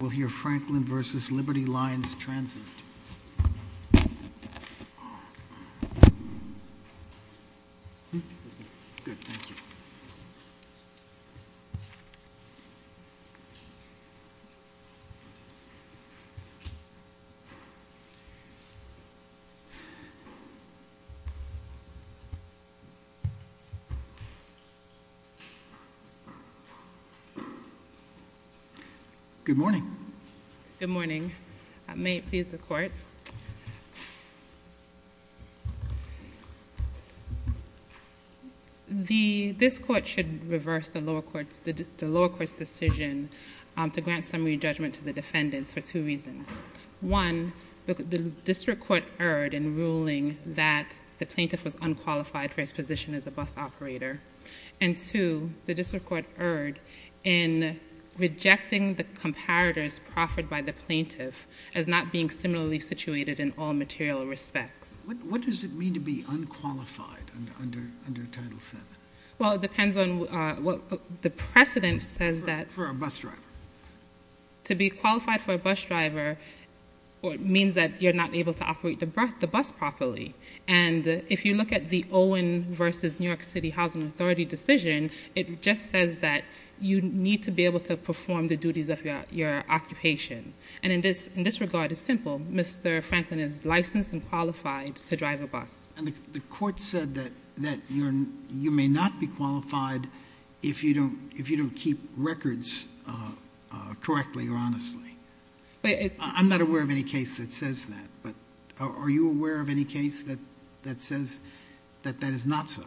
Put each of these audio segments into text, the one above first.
We'll hear Franklin v. Liberty Lines Transit. Good, thank you. Good morning. Good morning. This court should reverse the lower court's decision to grant summary judgment to the defendants for two reasons. One, the district court erred in ruling that the plaintiff was unqualified for his position as a bus operator. And two, the district court erred in rejecting the comparators proffered by the plaintiff as not being similarly situated in all material respects. What does it mean to be unqualified under Title VII? Well, it depends on what the precedent says that... For a bus driver. To be qualified for a bus driver means that you're not able to operate the bus properly. And if you look at the Owen v. New York City Housing Authority decision, it just says that you need to be able to perform the duties of your occupation. And in this regard, it's simple. Mr. Franklin is licensed and qualified to drive a bus. And the court said that you may not be qualified if you don't keep records correctly or honestly. I'm not aware of any case that says that, but are you aware of any case that says that that is not so?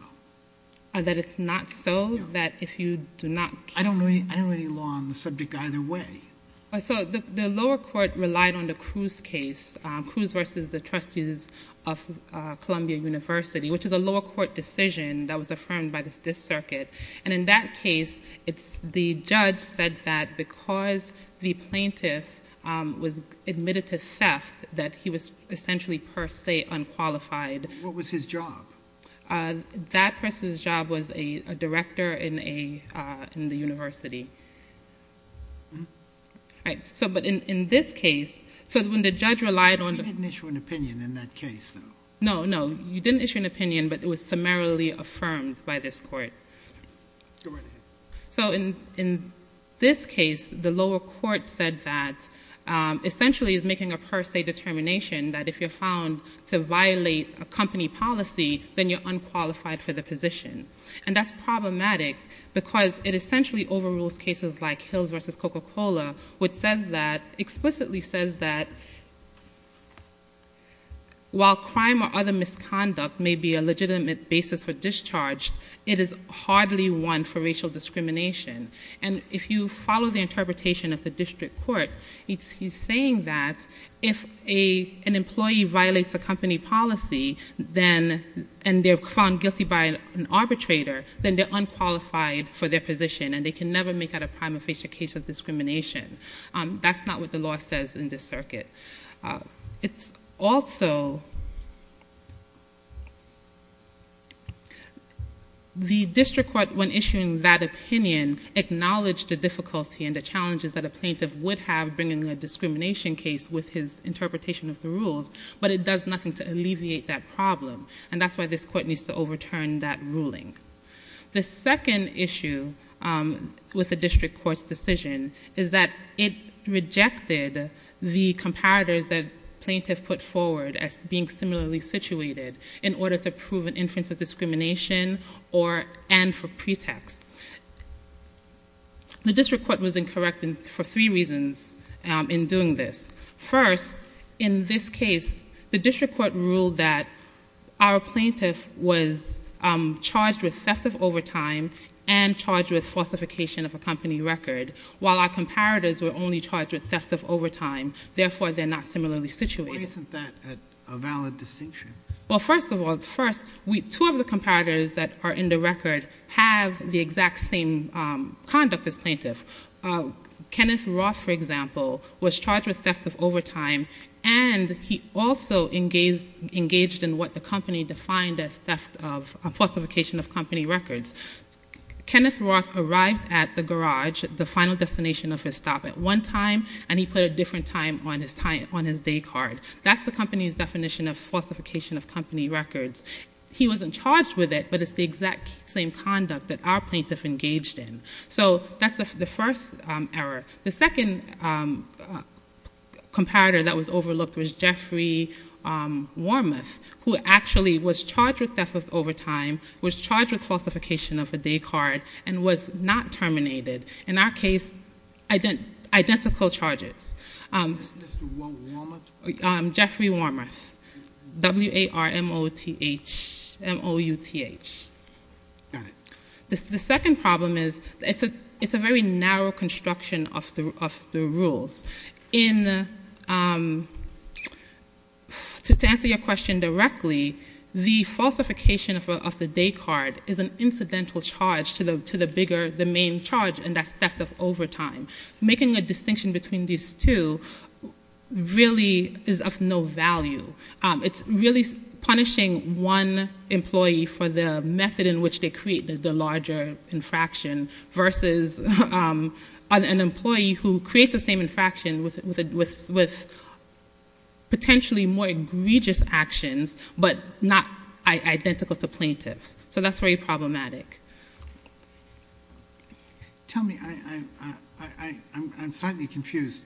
That it's not so? I don't know any law on the subject either way. So the lower court relied on the Cruz case, Cruz v. The Trustees of Columbia University, which is a lower court decision that was affirmed by this circuit. And in that case, the judge said that because the plaintiff was admitted to theft, that he was essentially per se unqualified. What was his job? That person's job was a director in the university. But in this case, when the judge relied on... You didn't issue an opinion in that case, though. No, no, you didn't issue an opinion, but it was summarily affirmed by this court. So in this case, the lower court said that essentially is making a per se determination that if you're found to violate a company policy, then you're unqualified for the position. And that's problematic because it essentially overrules cases like Hills v. Coca-Cola, which explicitly says that while crime or other misconduct may be a legitimate basis for discharge, it is hardly one for racial discrimination. And if you follow the interpretation of the district court, he's saying that if an employee violates a company policy and they're found guilty by an arbitrator, then they're unqualified for their position and they can never make out a prime or facial case of discrimination. That's not what the law says in this circuit. It's also... The district court, when issuing that opinion, acknowledged the difficulty and the challenges that a plaintiff would have bringing a discrimination case with his interpretation of the rules, but it does nothing to alleviate that problem. And that's why this court needs to overturn that ruling. The second issue with the district court's decision is that it rejected the comparators that plaintiff put forward as being similarly situated in order to prove an inference of discrimination and for pretext. The district court was incorrect for three reasons in doing this. First, in this case, the district court ruled that our plaintiff was charged with theft of overtime and charged with falsification of a company record, while our comparators were only charged with theft of overtime. Therefore, they're not similarly situated. Why isn't that a valid distinction? Well, first of all, two of the comparators that are in the record have the exact same conduct as plaintiff. Kenneth Roth, for example, was charged with theft of overtime, and he also engaged in what the company defined as theft of falsification of company records. Kenneth Roth arrived at the garage, the final destination of his stop, at one time, and he put a different time on his day card. That's the company's definition of falsification of company records. He wasn't charged with it, but it's the exact same conduct that our plaintiff engaged in. So that's the first error. The second comparator that was overlooked was Jeffrey Wormuth, who actually was charged with theft of overtime, was charged with falsification of a day card, and was not terminated. In our case, identical charges. Jeffrey Wormuth, W-A-R-M-O-U-T-H. The second problem is it's a very narrow construction of the rules. To answer your question directly, the falsification of the day card is an incidental charge to the bigger, the main charge, and that's theft of overtime. Making a distinction between these two really is of no value. It's really punishing one employee for the method in which they create the larger infraction, versus an employee who creates the same infraction with potentially more egregious actions, but not identical to plaintiffs. So that's very problematic. Tell me, I'm slightly confused.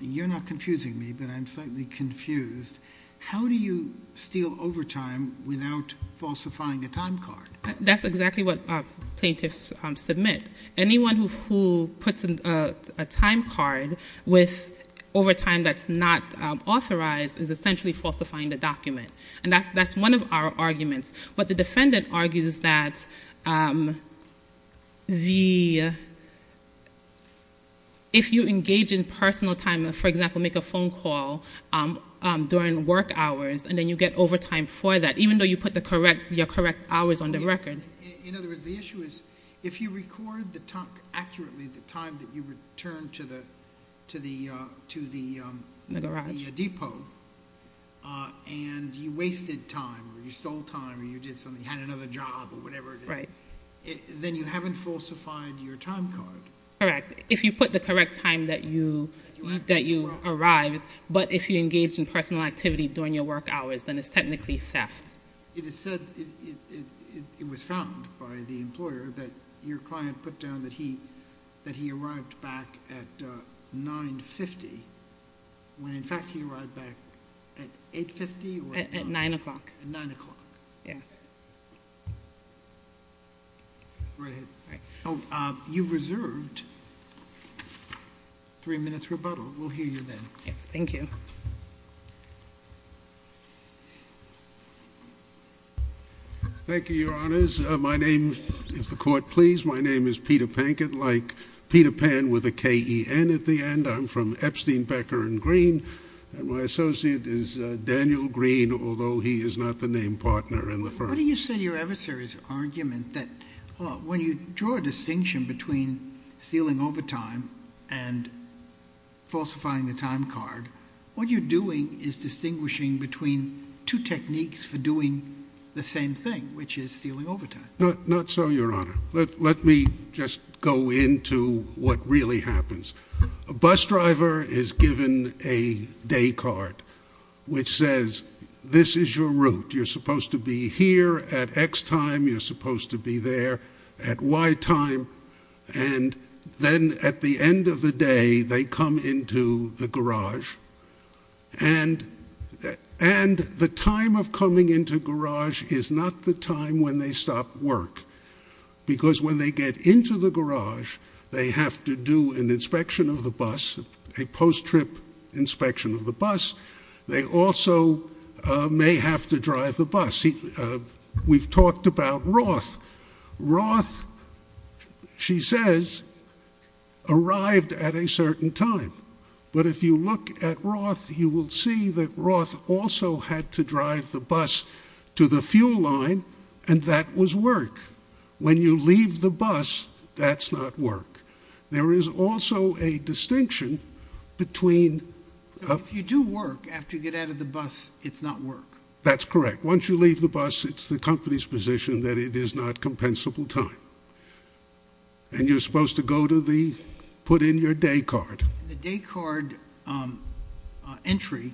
You're not confusing me, but I'm slightly confused. How do you steal overtime without falsifying a time card? That's exactly what plaintiffs submit. Anyone who puts a time card with overtime that's not authorized is essentially falsifying the document, and that's one of our arguments. But the defendant argues that if you engage in personal time, for example, make a phone call during work hours, and then you get overtime for that, even though you put your correct hours on the record. In other words, the issue is, if you record accurately the time that you returned to the depot, and you wasted time, or you stole time, or you had another job, or whatever, then you haven't falsified your time card. Correct. If you put the correct time that you arrived, but if you engaged in personal activity during your work hours, then it's technically theft. It is said, it was found by the employer, that your client put down that he arrived back at 9.50, when in fact he arrived back at 8.50? At 9 o'clock. At 9 o'clock. Yes. Go ahead. You've reserved three minutes rebuttal. We'll hear you then. Thank you. Thank you, Your Honors. My name, if the court please, my name is Peter Pankin, like Peter Pan with a K-E-N at the end. I'm from Epstein, Becker, and Green. And my associate is Daniel Green, although he is not the name partner in the firm. What do you say to your adversary's argument that when you draw a distinction between stealing overtime and falsifying the time card, what you're doing is distinguishing between two techniques for doing the same thing, which is stealing overtime. Not so, Your Honor. Let me just go into what really happens. A bus driver is given a day card, which says this is your route. You're supposed to be here at X time. You're supposed to be there at Y time. And then at the end of the day, they come into the garage. And the time of coming into garage is not the time when they stop work. Because when they get into the garage, they have to do an inspection of the bus, a post-trip inspection of the bus. They also may have to drive the bus. We've talked about Roth. Roth, she says, arrived at a certain time. But if you look at Roth, you will see that Roth also had to drive the bus to the fuel line. And that was work. When you leave the bus, that's not work. There is also a distinction between. If you do work, after you get out of the bus, it's not work. That's correct. Once you leave the bus, it's the company's position that it is not compensable time. And you're supposed to go to the put in your day card. The day card entry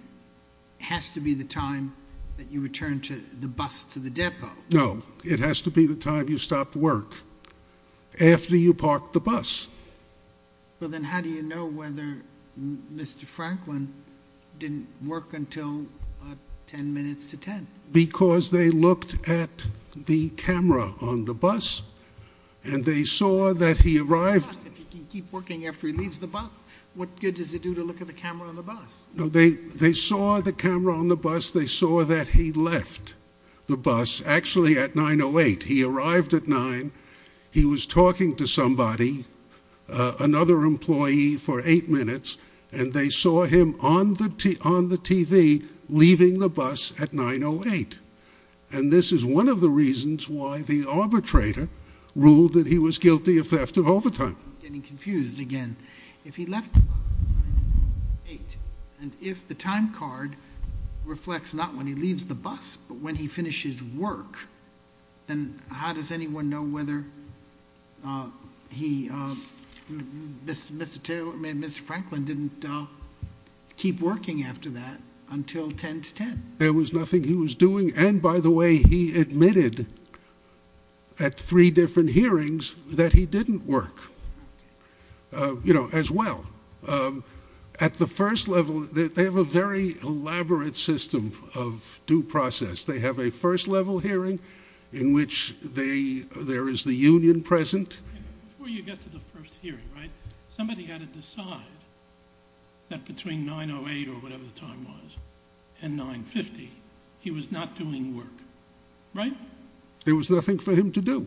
has to be the time that you return the bus to the depot. No. It has to be the time you stopped work after you parked the bus. Well, then how do you know whether Mr. Franklin didn't work until 10 minutes to 10? Because they looked at the camera on the bus. And they saw that he arrived. If you keep working after he leaves the bus, what good does it do to look at the camera on the bus? They saw the camera on the bus. They saw that he left the bus, actually, at 9.08. He arrived at 9. He was talking to somebody, another employee, for eight minutes. And they saw him on the TV leaving the bus at 9.08. And this is one of the reasons why the arbitrator ruled that he was guilty of theft of overtime. I'm getting confused again. If he left the bus at 9.08, and if the time card reflects not when he leaves the bus, but when he finishes work, then how does anyone know whether he, Mr. Franklin, didn't keep working after that until 10 to 10? There was nothing he was doing. And, by the way, he admitted at three different hearings that he didn't work as well. At the first level, they have a very elaborate system of due process. They have a first-level hearing in which there is the union present. Before you get to the first hearing, right, somebody had to decide that between 9.08, or whatever the time was, and 9.50, he was not doing work. Right? There was nothing for him to do.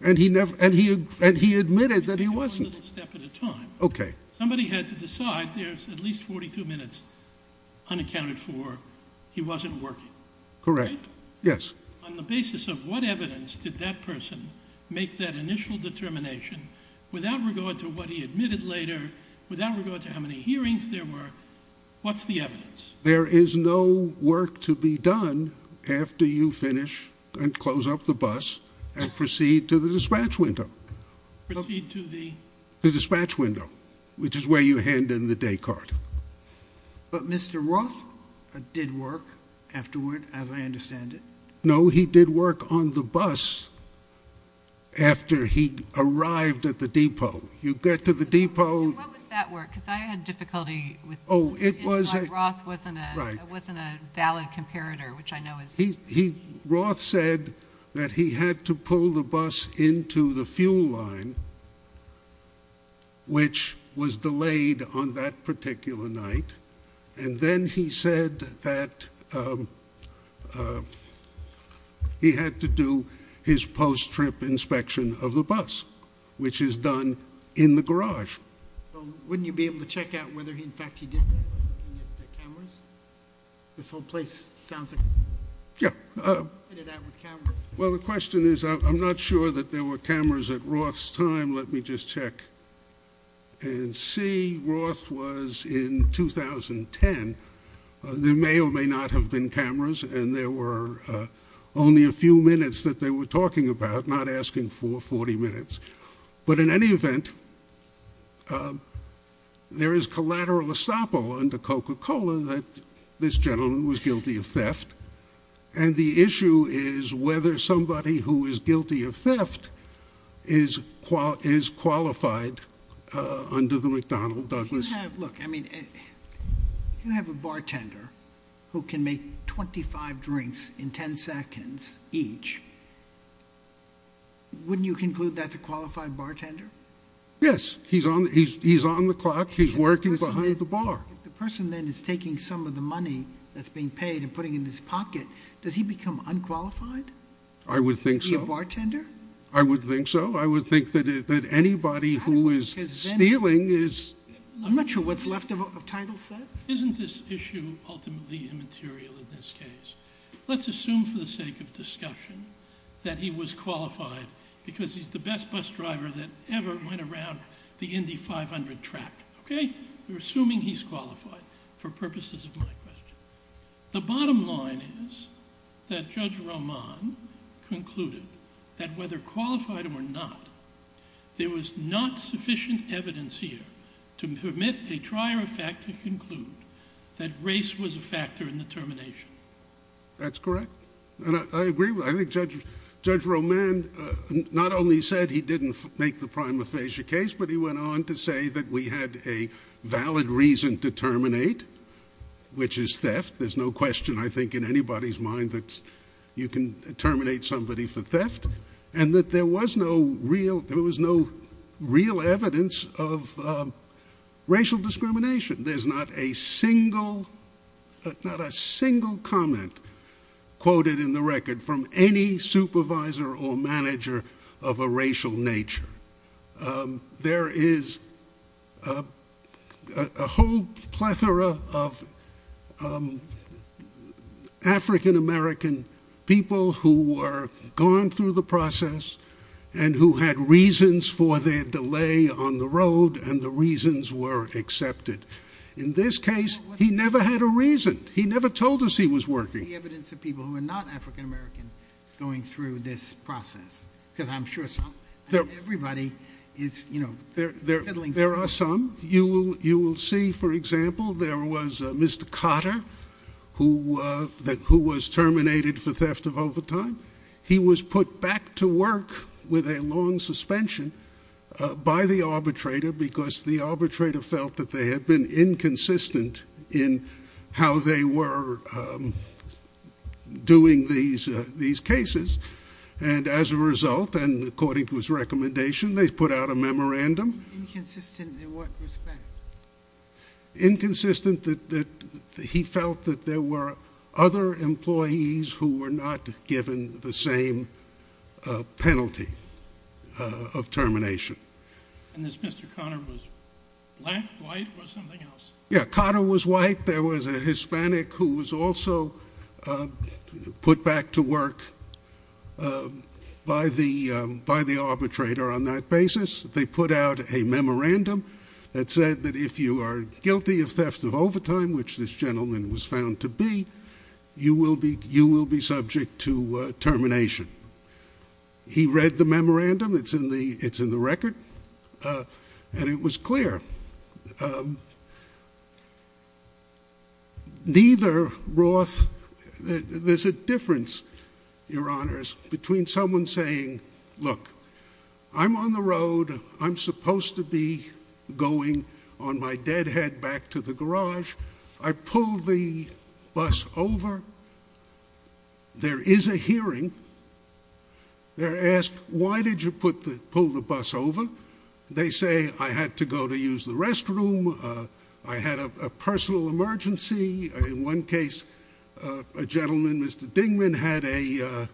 And he admitted that he wasn't. Okay. Somebody had to decide there's at least 42 minutes unaccounted for. He wasn't working. Correct. Yes. On the basis of what evidence did that person make that initial determination without regard to what he admitted later, without regard to how many hearings there were, what's the evidence? There is no work to be done after you finish and close up the bus and proceed to the dispatch window. Proceed to the? The dispatch window, which is where you hand in the day card. But Mr. Roth did work afterward, as I understand it. No, he did work on the bus after he arrived at the depot. You get to the depot. And what was that work? Because I had difficulty with it. Oh, it was. Because Roth wasn't a valid comparator, which I know is. Roth said that he had to pull the bus into the fuel line, which was delayed on that particular night. And then he said that he had to do his post-trip inspection of the bus, which is done in the garage. Wouldn't you be able to check out whether, in fact, he did that by looking at the cameras? This whole place sounds like he did that with cameras. Well, the question is, I'm not sure that there were cameras at Roth's time. Let me just check and see. Roth was in 2010. There may or may not have been cameras, and there were only a few minutes that they were talking about, not asking for 40 minutes. But in any event, there is collateral estoppel under Coca-Cola that this gentleman was guilty of theft. And the issue is whether somebody who is guilty of theft is qualified under the McDonnell-Douglas Act. Look, I mean, if you have a bartender who can make 25 drinks in 10 seconds each, wouldn't you conclude that's a qualified bartender? Yes. He's on the clock. He's working behind the bar. If the person then is taking some of the money that's being paid and putting it in his pocket, does he become unqualified? I would think so. To be a bartender? I would think so. I would think that anybody who is stealing is... I'm not sure what's left of Title VII. Isn't this issue ultimately immaterial in this case? Let's assume for the sake of discussion that he was qualified because he's the best bus driver that ever went around the Indy 500 track. Okay? We're assuming he's qualified for purposes of my question. The bottom line is that Judge Roman concluded that whether qualified or not, there was not sufficient evidence here to permit a trier of fact to conclude that race was a factor in the termination. That's correct. I agree. I think Judge Roman not only said he didn't make the prima facie case, but he went on to say that we had a valid reason to terminate, which is theft. There's no question, I think, in anybody's mind that you can terminate somebody for theft and that there was no real evidence of racial discrimination. There's not a single comment quoted in the record from any supervisor or manager of a racial nature. There is a whole plethora of African American people who were gone through the process and who had reasons for their delay on the road and the reasons were accepted. In this case, he never had a reason. He never told us he was working. There's no evidence of people who are not African American going through this process because I'm sure everybody is, you know, fiddling. There are some. You will see, for example, there was Mr. Cotter who was terminated for theft of overtime. He was put back to work with a long suspension by the arbitrator because the arbitrator felt that they had been inconsistent in how they were doing these cases. And as a result, and according to his recommendation, they put out a memorandum. Inconsistent in what respect? The same penalty of termination. And this Mr. Cotter was black, white or something else? Yeah, Cotter was white. There was a Hispanic who was also put back to work by the arbitrator on that basis. They put out a memorandum that said that if you are guilty of theft of overtime, which this gentleman was found to be, you will be subject to termination. He read the memorandum. It's in the record. And it was clear. Neither Roth, there's a difference, Your Honors, between someone saying, look, I'm on the road. I'm supposed to be going on my dead head back to the garage. I pulled the bus over. There is a hearing. They're asked, why did you pull the bus over? They say, I had to go to use the restroom. I had a personal emergency. In one case, a gentleman, Mr. Dingman, had a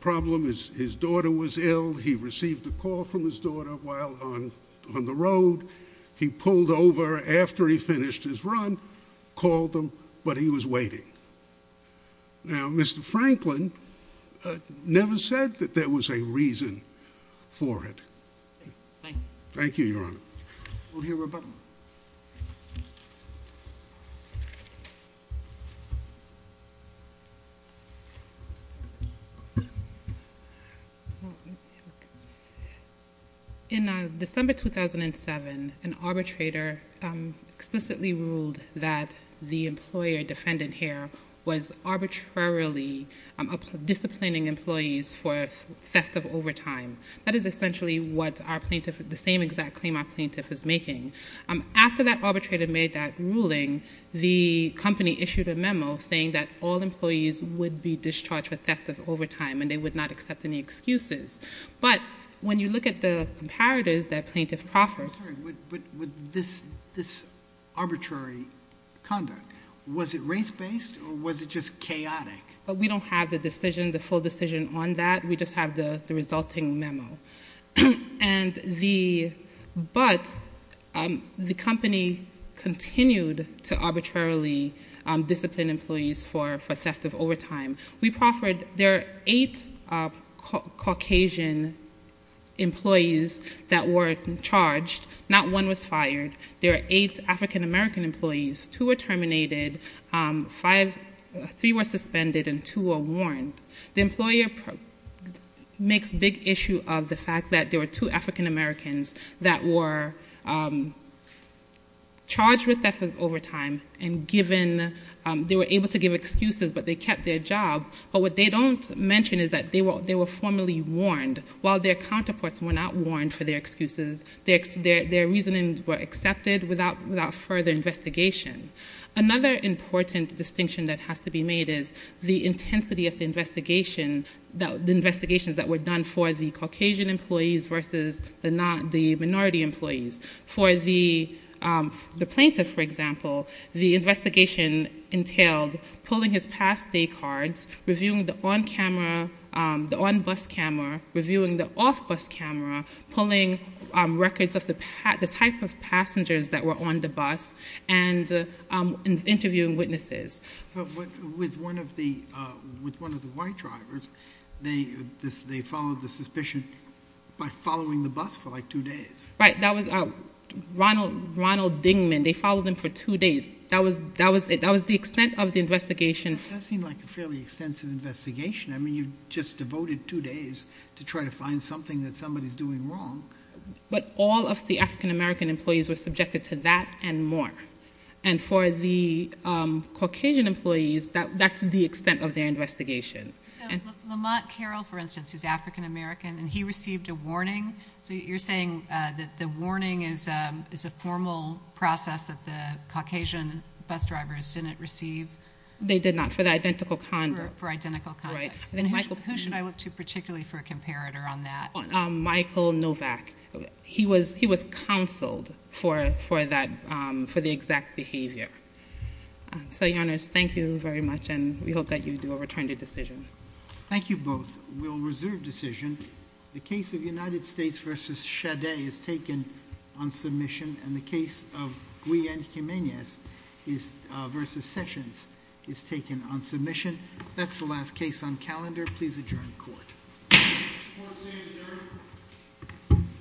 problem. His daughter was ill. He received a call from his daughter while on the road. He pulled over after he finished his run, called him, but he was waiting. Now, Mr. Franklin never said that there was a reason for it. Thank you, Your Honor. We'll hear rebuttal. In December 2007, an arbitrator explicitly ruled that the employer defendant here was arbitrarily disciplining employees for theft of overtime. That is essentially what our plaintiff, the same exact claim our plaintiff is making. After that arbitrator made that ruling, the company issued a memo saying that all employees would be discharged for theft of overtime and they would not accept any excuses. But when you look at the comparators that plaintiff proffered. I'm sorry, but with this arbitrary conduct, was it race-based or was it just chaotic? We don't have the decision, the full decision on that. We just have the resulting memo. But the company continued to arbitrarily discipline employees for theft of overtime. There are eight Caucasian employees that were charged. Not one was fired. There are eight African American employees. Two were terminated. Three were suspended and two were warned. The employer makes big issue of the fact that there were two African Americans that were charged with theft of overtime. They were able to give excuses, but they kept their job. But what they don't mention is that they were formally warned while their counterparts were not warned for their excuses. Their reasoning were accepted without further investigation. Another important distinction that has to be made is the intensity of the investigations that were done for the Caucasian employees versus the minority employees. For the plaintiff, for example, the investigation entailed pulling his past day cards, reviewing the on-camera, the on-bus camera, reviewing the off-bus camera, pulling records of the type of passengers that were on the bus, and interviewing witnesses. But with one of the white drivers, they followed the suspicion by following the bus for like two days. Right. That was Ronald Dingman. They followed him for two days. That was the extent of the investigation. That does seem like a fairly extensive investigation. I mean, you just devoted two days to try to find something that somebody's doing wrong. But all of the African American employees were subjected to that and more. And for the Caucasian employees, that's the extent of their investigation. So Lamont Carroll, for instance, who's African American, and he received a warning. So you're saying that the warning is a formal process that the Caucasian bus drivers didn't receive? They did not for the identical conduct. For identical conduct. Right. Who should I look to particularly for a comparator on that? Michael Novak. He was counseled for the exact behavior. So, Your Honor, thank you very much, and we hope that you do a return to decision. Thank you both. We'll reserve decision. The case of United States v. Chaudet is taken on submission, and the case of Guy and Jimenez v. Sessions is taken on submission. That's the last case on calendar. Please adjourn court. Court is adjourned.